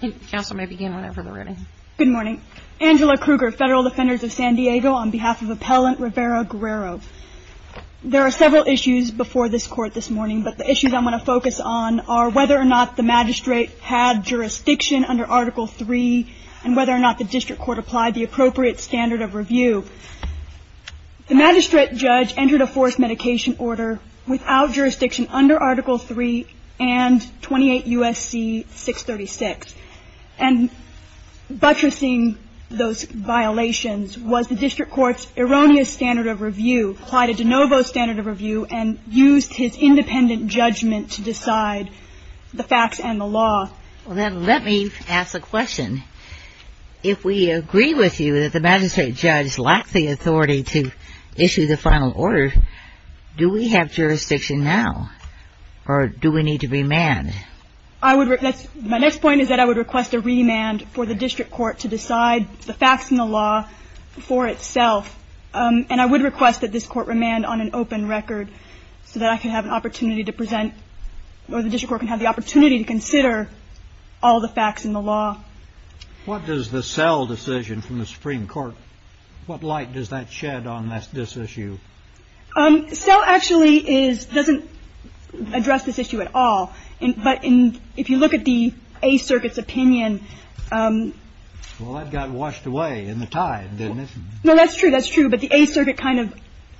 Good morning. Angela Kruger, Federal Defenders of San Diego, on behalf of Appellant Rivera-Guerrero. There are several issues before this Court this morning, but the issues I want to focus on are whether or not the Magistrate had jurisdiction under Article III and whether or not the District Court applied the appropriate standard of review. The Magistrate Judge entered a forced medication order without jurisdiction under Article III and 28 U.S.C. 636. And buttressing those violations was the District Court's erroneous standard of review, applied a de novo standard of review, and used his independent judgment to decide the facts and the law. Well, then let me ask the question. If we agree with you that the Magistrate Judge lacked the authority to issue the final order, do we have jurisdiction now, or do we need to remand? My next point is that I would request a remand for the District Court to decide the facts and the law for itself. And I would request that this Court remand on an open record so that I can have an opportunity to present, or the District Court can have the opportunity to consider all the facts and the law. What does the Sell decision from the Supreme Court, what light does that shed on this issue? Sell actually is — doesn't address this issue at all. But if you look at the A Circuit's opinion — Well, that got washed away in the tide, didn't it? No, that's true. That's true. But the A Circuit kind of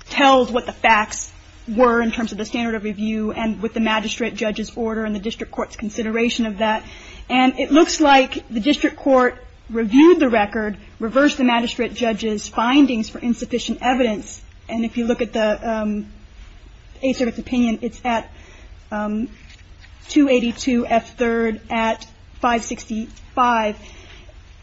tells what the facts were in terms of the standard of review and with the Magistrate Judge's order and the District Court's consideration of that. And it looks like the District Court reviewed the record, reversed the Magistrate Judge's findings for insufficient evidence. And if you look at the A Circuit's opinion, it's at 282 F. 3rd at 565.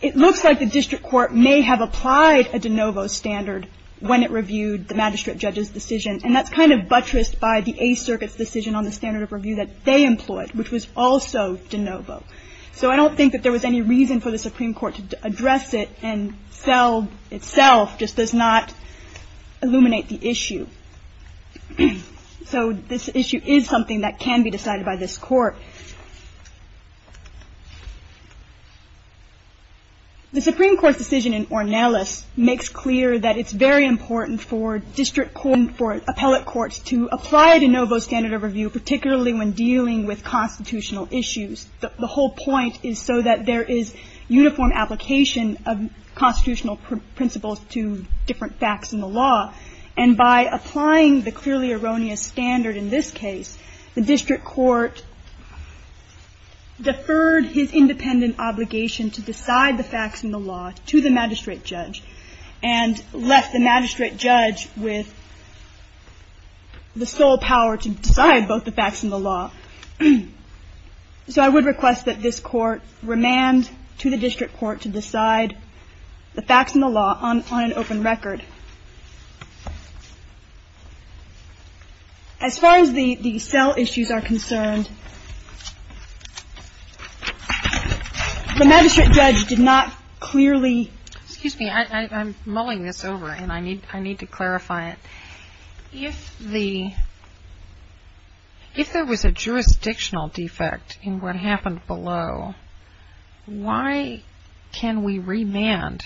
It looks like the District Court may have applied a de novo standard when it reviewed the Magistrate Judge's decision, and that's kind of buttressed by the A Circuit's decision on the standard of review that they So I don't think that there was any reason for the Supreme Court to address it. And Sell itself just does not illuminate the issue. So this issue is something that can be decided by this Court. The Supreme Court's decision in Ornelas makes clear that it's very important for District Court and for appellate courts to apply a de novo standard of review, particularly when dealing with constitutional issues. The whole point is so that there is uniform application of constitutional principles to different facts in the law. And by applying the clearly erroneous standard in this case, the District Court deferred his independent obligation to decide the facts in the law to the Magistrate Judge and left the Magistrate Judge with the sole power to decide both the facts and the law. So I would request that this Court remand to the District Court to decide the facts and the law on an open record. As far as the Sell issues are concerned, the Magistrate Judge did not clearly Excuse me, I'm mulling this over and I need to clarify it. If there was a jurisdictional defect in what happened below, why can we remand?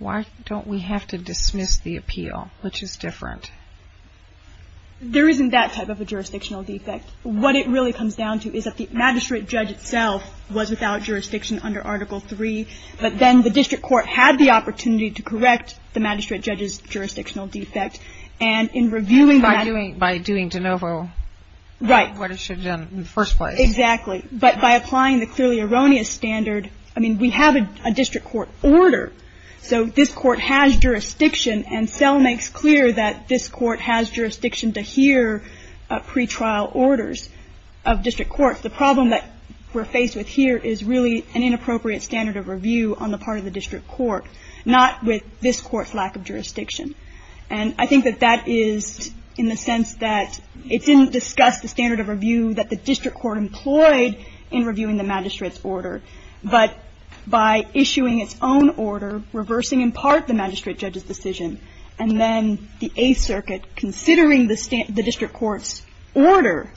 Why don't we have to dismiss the appeal, which is different? There isn't that type of a jurisdictional defect. What it really comes down to is that the Magistrate Judge itself was without jurisdiction under Article III, but then the opportunity to correct the Magistrate Judge's jurisdictional defect and in reviewing By doing de novo what it should have done in the first place. Exactly. But by applying the clearly erroneous standard, I mean, we have a District Court order, so this Court has jurisdiction and Sell makes clear that this Court has jurisdiction to hear pretrial orders of District Courts. The problem that we're faced with here is really an inappropriate standard of review on the part of the District Court, not with this Court's lack of jurisdiction. And I think that that is in the sense that it didn't discuss the standard of review that the District Court employed in reviewing the Magistrate's order. But by issuing its own order, reversing in part the Magistrate Judge's decision, and then the Eighth Circuit considering the District Court's order,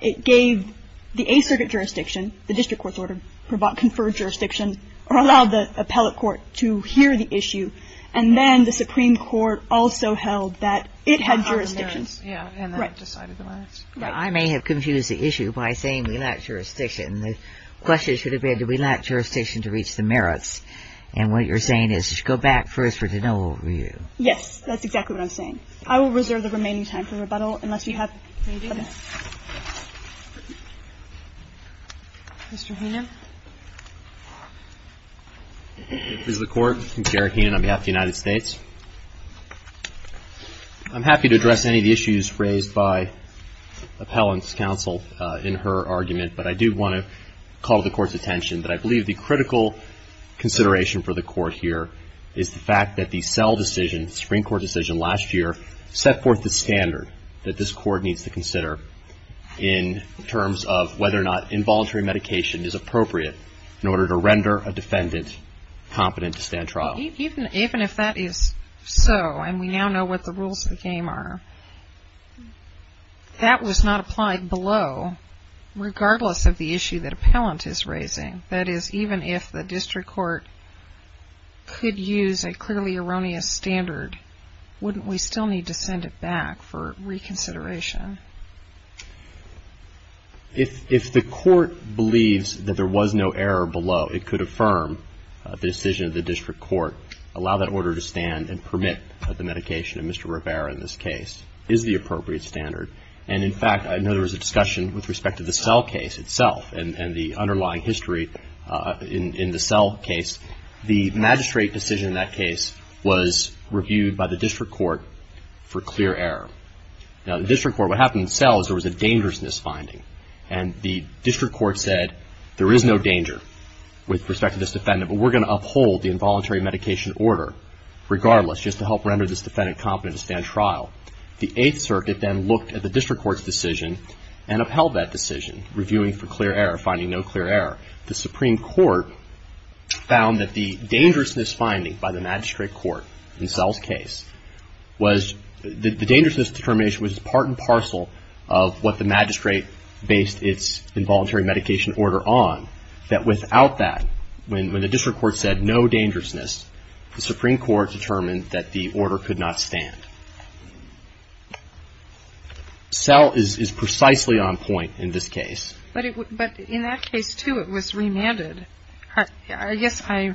it gave the Eighth Circuit jurisdiction, the District Court's order conferred jurisdiction or allowed the appellate court to hear the issue. And then the Supreme Court also held that it had jurisdiction. Yeah. And then it decided to let us. I may have confused the issue by saying we lack jurisdiction. The question should have been, do we lack jurisdiction to reach the merits? And what you're saying is just go back first for de novo review. Yes. That's exactly what I'm saying. I will reserve the remaining time for rebuttal unless you have... Mr. Heenan. This is the Court. I'm Jared Heenan on behalf of the United States. I'm happy to address any of the issues raised by Appellant's counsel in her argument, but I do want to call the Court's attention that I believe the critical consideration for the Court here is the fact that the Sell decision, the Supreme Court decision last year, set forth the standard that this Court needs to consider in terms of whether or not involuntary medication is appropriate in order to render a defendant competent to stand trial. Even if that is so, and we now know what the rules of the game are, that was not applied below, regardless of the issue that Appellant is raising. That is, even if the district court could use a clearly erroneous standard, wouldn't we still need to send it back for reconsideration? If the Court believes that there was no error below, it could affirm the decision of the district court, allow that order to stand, and permit the medication. And Mr. Rivera, in this case, is the appropriate standard. And, in fact, I know there was a discussion with respect to the Sell case itself and the underlying history in the Sell case. The magistrate decision in that case was reviewed by the district court for clear error. Now, the district court, what happened in Sell is there was a dangerousness finding. And the district court said, there is no danger with respect to this defendant, but we're going to uphold the involuntary medication order, regardless, just to help render this defendant competent to stand trial. The Eighth Circuit then looked at the district court's decision and upheld that The Supreme Court found that the dangerousness finding by the magistrate court in Sell's case was, the dangerousness determination was part and parcel of what the magistrate based its involuntary medication order on, that without that, when the district court said no dangerousness, the Supreme Court determined that the order could not stand. Sell is precisely on point in this case. But in that case, too, it was remanded. I guess I,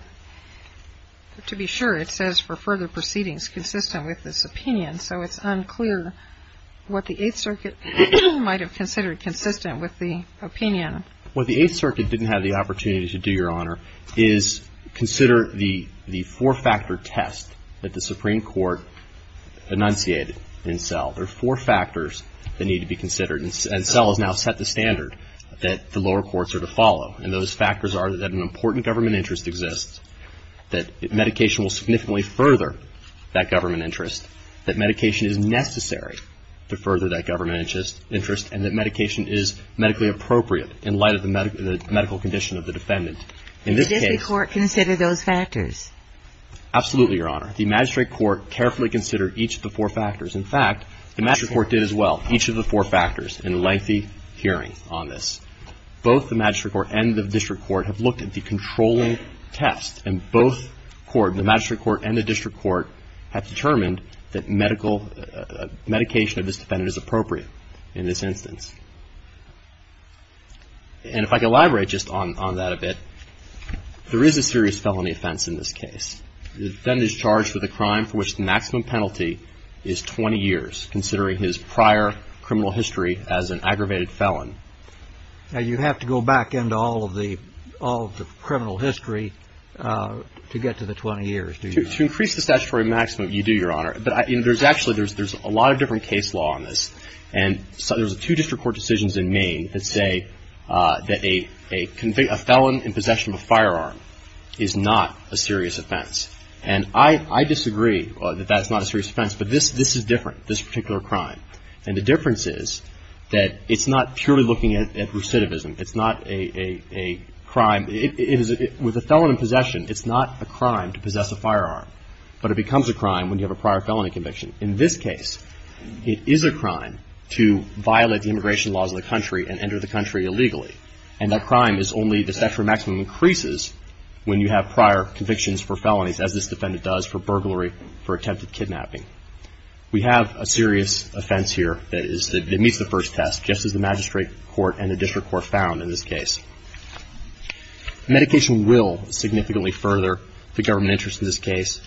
to be sure, it says for further proceedings consistent with this opinion, so it's unclear what the Eighth Circuit might have considered consistent with the opinion. What the Eighth Circuit didn't have the opportunity to do, Your Honor, is consider the four-factor test that the Supreme Court enunciated in Sell. There are four factors that need to be considered, and Sell has now set the standard that the lower courts are to follow, and those factors are that an important government interest exists, that medication will significantly further that government interest, that medication is necessary to further that government interest, and that medication is medically appropriate in light of the medical condition of the defendant. In this case the district court considered those factors. Absolutely, Your Honor. The magistrate court carefully considered each of the four factors. In fact, the magistrate court did as well, each of the four factors in a lengthy hearing on this. Both the magistrate court and the district court have looked at the controlling test, and both the magistrate court and the district court have determined that medication of this defendant is appropriate in this instance. And if I could elaborate just on that a bit, there is a serious felony offense in this case. The defendant is charged with a crime for which the maximum penalty is 20 years, considering his prior criminal history as an aggravated felon. Now, you have to go back into all of the criminal history to get to the 20 years, do you not? To increase the statutory maximum, you do, Your Honor. But actually there's a lot of different case law on this, and there's two district court decisions in Maine that say that a felon in possession of a firearm is not a serious offense. And I disagree that that's not a serious offense, but this is different. This particular crime. And the difference is that it's not purely looking at recidivism. It's not a crime. It is, with a felon in possession, it's not a crime to possess a firearm. But it becomes a crime when you have a prior felony conviction. In this case, it is a crime to violate the immigration laws of the country and enter the country illegally. And that crime is only, the statutory maximum increases when you have prior convictions for felonies, as this defendant does for burglary, for attempted kidnapping. We have a serious offense here that meets the first test, just as the magistrate court and the district court found in this case. Medication will significantly further the government interest in this case.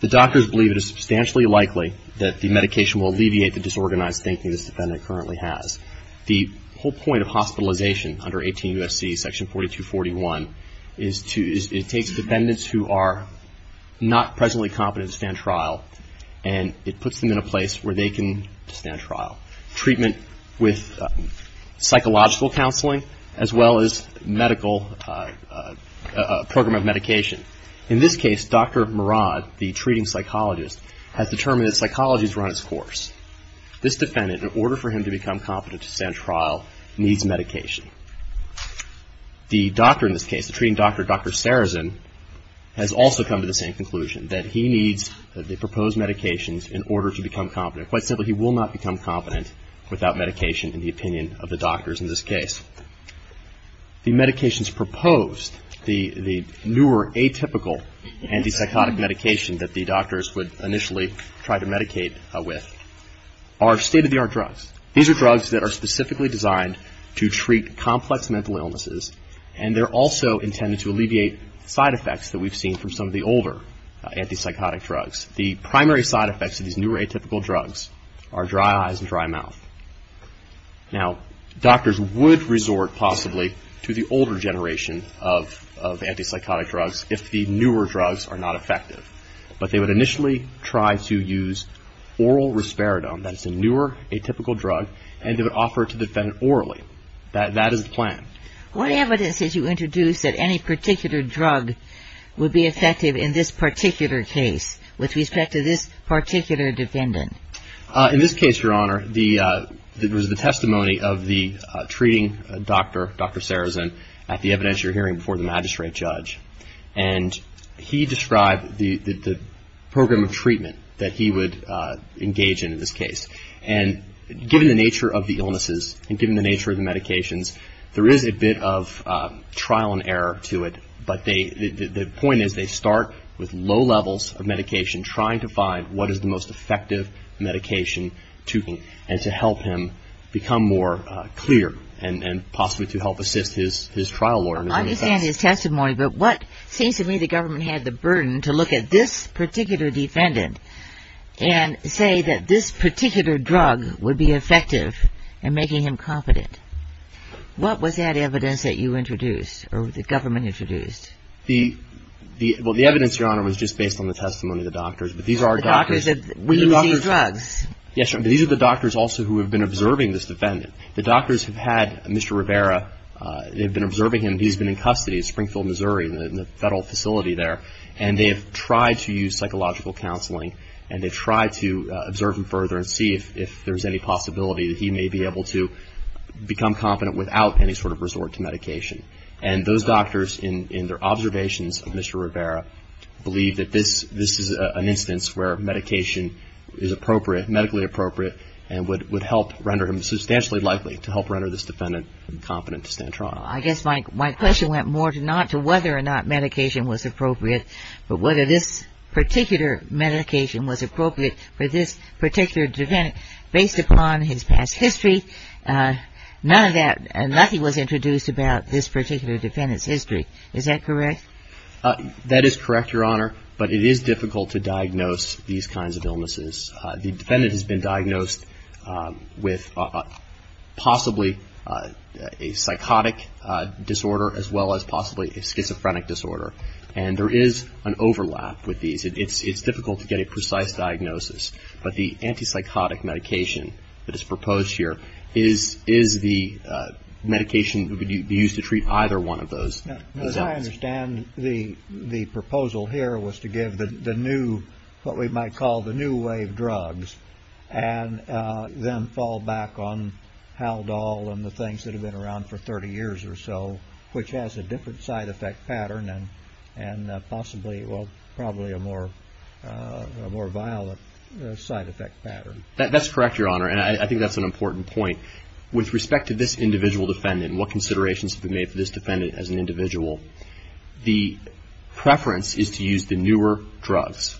The doctors believe it is substantially likely that the medication will alleviate the disorganized thinking this defendant currently has. The whole point of hospitalization under 18 U.S.C. section 4241 is to, it takes defendants who are not presently competent to stand trial, and it puts them in a place where they can stand trial. Treatment with psychological counseling as well as medical program of medication. In this case, Dr. Murad, the treating psychologist, has determined that psychology has run its course. This defendant, in order for him to become competent to stand trial, needs medication. The doctor in this case, the treating doctor, Dr. Sarazin, has also come to the same conclusion, that he needs the proposed medications in order to become competent. Quite simply, he will not become competent without medication, in the opinion of the doctors in this case. The medications proposed, the newer atypical antipsychotic medication that the doctors would initially try to medicate with, are state-of-the-art drugs. These are drugs that are specifically designed to treat complex mental illnesses, and they're also intended to alleviate side effects that we've seen from some of the older antipsychotic drugs. The primary side effects of these newer atypical drugs are dry eyes and dry mouth. Now, doctors would resort, possibly, to the older generation of antipsychotic drugs if the newer drugs are not effective. But they would initially try to use oral risperidone, that's a newer atypical drug, and they would offer it to the defendant orally. That is the plan. What evidence did you introduce that any particular drug would be effective in this particular case, with respect to this particular defendant? In this case, Your Honor, there was the testimony of the treating doctor, Dr. Sarazin, at the evidence you're hearing before the magistrate judge. And he described the program of treatment that he would engage in, in this case. And given the nature of the illnesses, and given the nature of the medications, there is a bit of trial and error to it. But the point is, they start with low levels of medication, trying to find what is the most effective medication to him, and to help him become more clear, and possibly to help assist his trial lawyer. I understand his testimony, but what seems to me the government had the burden to look at this particular defendant and say that this particular drug would be effective in making him confident. What was that evidence that you introduced, or the government introduced? The evidence, Your Honor, was just based on the testimony of the doctors. But these are doctors. The doctors that were using drugs? Yes, but these are the doctors also who have been observing this defendant. The doctors have had Mr. Rivera, they've been observing him. He's been in custody at Springfield, Missouri, in the federal facility there. And they have tried to use psychological counseling. And they've tried to observe him further and see if there's any possibility that he may be able to become confident without any sort of resort to medication. And those doctors, in their observations of Mr. Rivera, believe that this is an instance where medication is appropriate, medically appropriate, and would help render him substantially likely to help render this defendant confident to stand trial. I guess my question went more to not to whether or not medication was appropriate, but whether this particular medication was appropriate for this particular defendant. Based upon his past history, none of that, nothing was introduced about this particular defendant's history. Is that correct? That is correct, Your Honor, but it is difficult to diagnose these kinds of illnesses. The defendant has been diagnosed with possibly a psychotic disorder as well as possibly a schizophrenic disorder. And there is an overlap with these. It's difficult to get a precise diagnosis. But the antipsychotic medication that is proposed here, is the medication that would be used to treat either one of those? As I understand, the proposal here was to give the new, what we might call the new wave drugs, and then fall back on Haldol and the things that have been around for 30 years or so, which has a different side effect pattern and possibly, well, probably a more violent side effect pattern. That's correct, Your Honor, and I think that's an important point. With respect to this individual defendant and what considerations have been made for this defendant as an individual, the preference is to use the newer drugs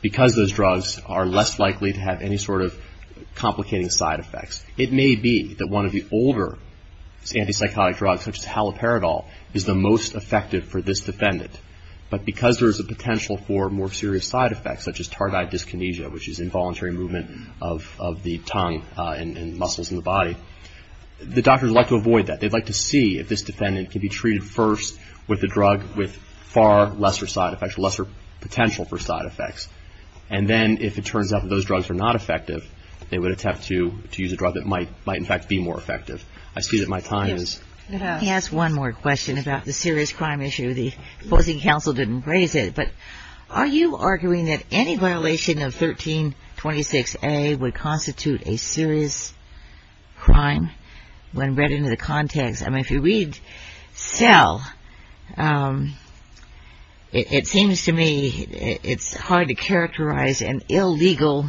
because those drugs are less likely to have any sort of complicating side effects. It may be that one of the older antipsychotic drugs, such as Haloperidol, is the most effective for this defendant. But because there is a potential for more serious side effects, such as tardive dyskinesia, which is involuntary movement of the tongue and muscles in the body, the doctors like to avoid that. They'd like to see if this defendant can be treated first with a drug with far lesser side effects, lesser potential for side effects. And then, if it turns out that those drugs are not effective, they would attempt to use a drug that might, in fact, be more effective. I see that my time is... Can I ask one more question about the serious crime issue? The opposing counsel didn't raise it, but are you arguing that any violation of 1326A would constitute a serious crime when read into the context? I mean, if you read Cell, it seems to me it's hard to characterize an illegal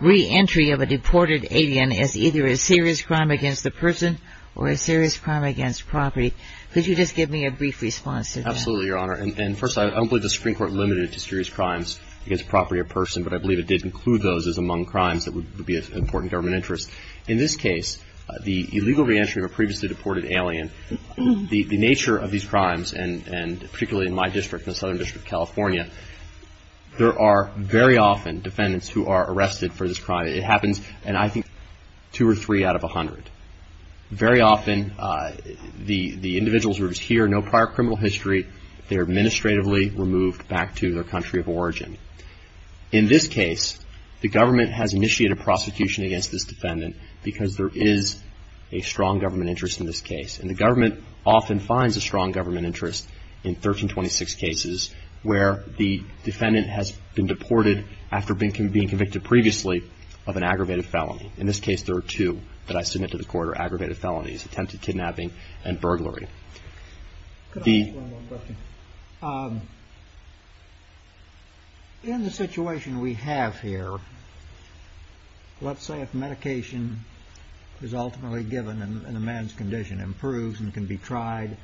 reentry of a deported alien as either a serious crime against the person or a serious crime against property. Could you just give me a brief response to that? Absolutely, Your Honor. And first, I don't believe the Supreme Court limited it to serious crimes against property or person, but I believe it did include those as among crimes that would be of important government interest. In this case, the illegal reentry of a previously deported alien, the nature of these crimes, and particularly in my district, the Southern District of California, there are very often defendants who are arrested for this crime. It happens, I think, two or three out of a hundred. Very often, the individuals who are here have no prior criminal history. They are administratively removed back to their country of origin. In this case, the government has initiated prosecution against this defendant because there is a strong government interest in this case. And the government often finds a strong government interest in 1326 cases where the defendant has been deported after being convicted previously of an aggravated felony. In this case, there are two that I submit to the court are aggravated felonies, attempted kidnapping and burglary. Could I ask one more question? In the situation we have here, let's say if medication is ultimately given and the man's condition improves and can be tried,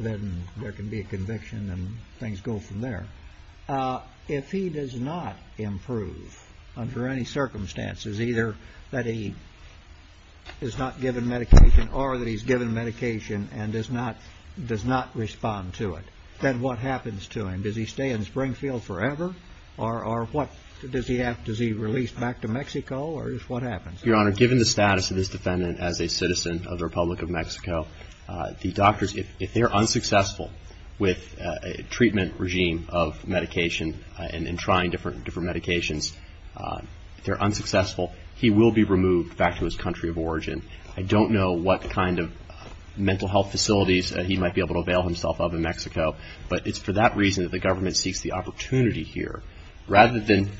then there can be a conviction and things go from there. If he does not improve under any circumstances, either that he is not given medication or that he's given medication and does not respond to it, then what happens to him? Does he stay in Springfield forever or does he release back to Mexico or what happens? Your Honor, given the status of this defendant as a citizen of the Republic of and trying different medications, if they're unsuccessful, he will be removed back to his country of origin. I don't know what kind of mental health facilities he might be able to avail himself of in Mexico, but it's for that reason that the government seeks the opportunity here rather than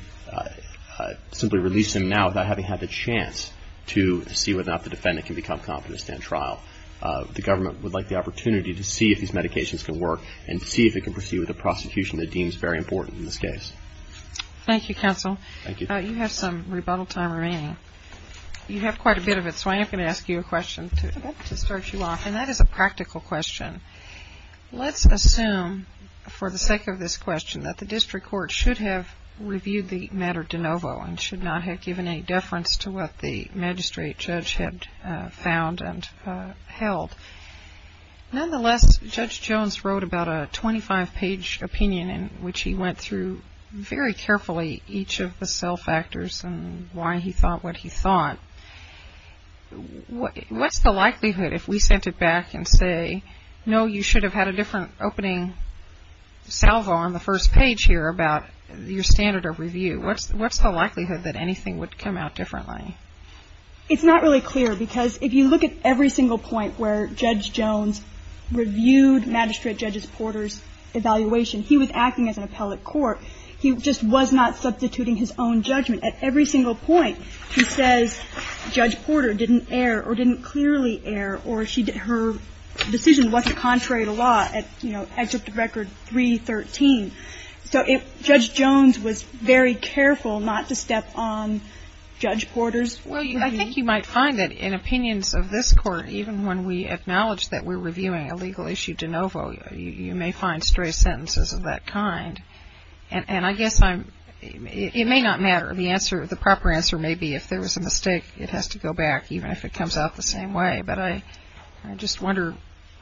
simply release him now without having had the chance to see whether or not the defendant can become competent to stand trial. The government would like the opportunity to see if these medications can work and see if it can proceed with a prosecution that deems very important in this case. Thank you, Counsel. Thank you. You have some rebuttal time remaining. You have quite a bit of it, so I am going to ask you a question to start you off, and that is a practical question. Let's assume for the sake of this question that the district court should have reviewed the matter de novo and should not have given any deference to what the magistrate judge had found and held. Nonetheless, Judge Jones wrote about a 25-page opinion in which he went through very carefully each of the cell factors and why he thought what he thought. What's the likelihood if we sent it back and say, no, you should have had a different opening salvo on the first page here about your standard of review, what's the likelihood that anything would come out differently? It's not really clear because if you look at every single point where Judge Jones reviewed Magistrate Judge Porter's evaluation, he was acting as an appellate court. He just was not substituting his own judgment. At every single point, he says Judge Porter didn't err or didn't clearly err or her decision wasn't contrary to law at, you know, Excerpt of Record 313. So Judge Jones was very careful not to step on Judge Porter's opinion. Well, I think you might find that in opinions of this court, even when we acknowledge that we're reviewing a legal issue de novo, you may find stray sentences of that kind. And I guess it may not matter. The proper answer may be if there was a mistake, it has to go back, even if it comes out the same way. But I just wonder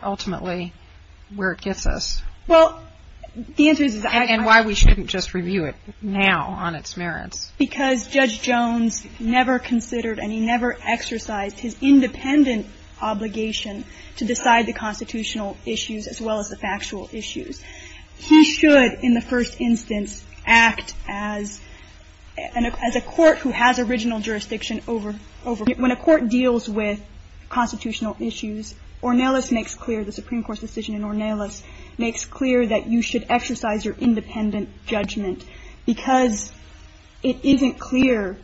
ultimately where it gets us. Well, the answer is I can't. And why we shouldn't just review it now on its merits. Because Judge Jones never considered and he never exercised his independent obligation to decide the constitutional issues as well as the factual issues. He should, in the first instance, act as a court who has original jurisdiction over when a court deals with constitutional issues, Ornelas makes clear, the Supreme Court's decision in Ornelas makes clear that you should exercise your independent judgment because it isn't clear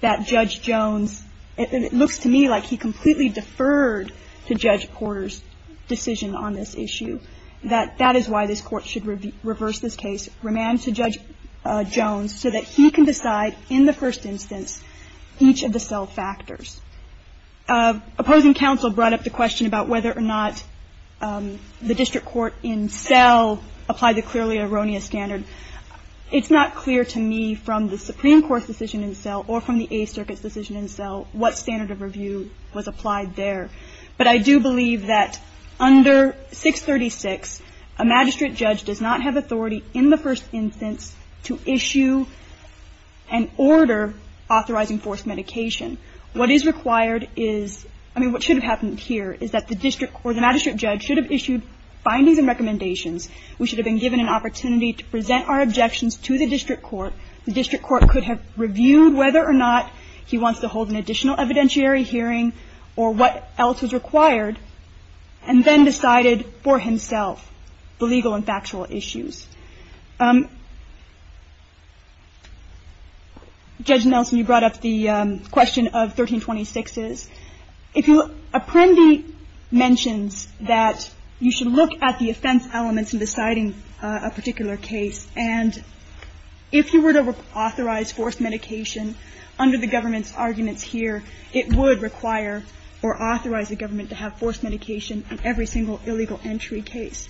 that Judge Jones, and it looks to me like he completely deferred to Judge Porter's decision on this issue, that that is why this Court should reverse this case, remand to Judge Jones so that he can decide in the first instance each of the self-factors. Opposing counsel brought up the question about whether or not the district court in Sell applied the clearly erroneous standard. It's not clear to me from the Supreme Court's decision in Sell or from the Eighth Circuit's decision in Sell what standard of review was applied there. But I do believe that under 636, a magistrate judge does not have authority in the first instance to issue an order authorizing forced medication. What is required is, I mean, what should have happened here is that the district or the magistrate judge should have issued findings and recommendations. We should have been given an opportunity to present our objections to the district court. The district court could have reviewed whether or not he wants to hold an additional evidentiary hearing or what else was required, and then decided for himself the legal and factual issues. Judge Nelson, you brought up the question of 1326s. If you look, Apprendi mentions that you should look at the offense elements in deciding a particular case, and if you were to authorize forced medication under the government's arguments here, it would require or authorize the government to have forced medication in every single illegal entry case.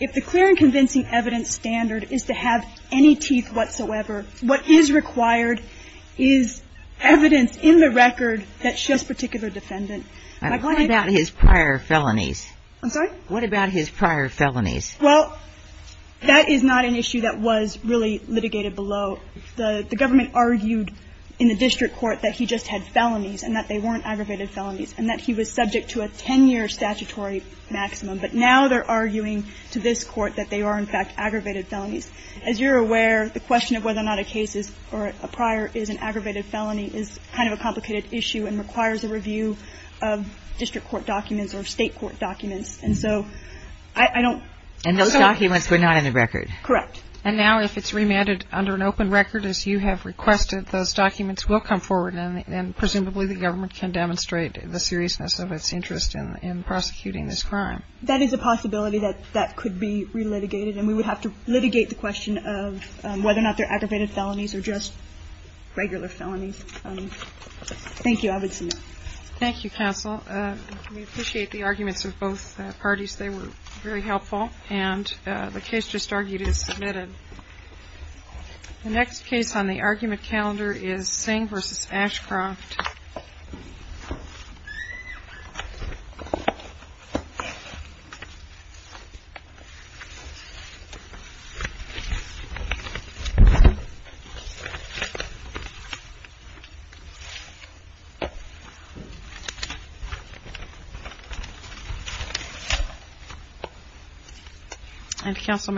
If the clear and convincing evidence standard is to have any teeth whatsoever, what is required is evidence in the record that shows particular defendant. I'm sorry? What about his prior felonies? Well, that is not an issue that was really litigated below. The government argued in the district court that he just had felonies and that they weren't aggravated felonies and that he was subject to a 10-year statutory maximum. But now they're arguing to this Court that they are, in fact, aggravated felonies. As you're aware, the question of whether or not a case is or a prior is an aggravated felony is kind of a complicated issue and requires a review of district court documents or state court documents. And so I don't so. And those documents were not in the record. Correct. And now if it's remanded under an open record, as you have requested, those documents will come forward and presumably the government can demonstrate the seriousness of its interest in prosecuting this crime. That is a possibility that that could be relitigated. And we would have to litigate the question of whether or not they're aggravated felonies or just regular felonies. Thank you. I would submit. Thank you, counsel. We appreciate the arguments of both parties. They were very helpful. And the case just argued is submitted. The next case on the argument calendar is Singh v. Ashcroft. Thank you, counsel.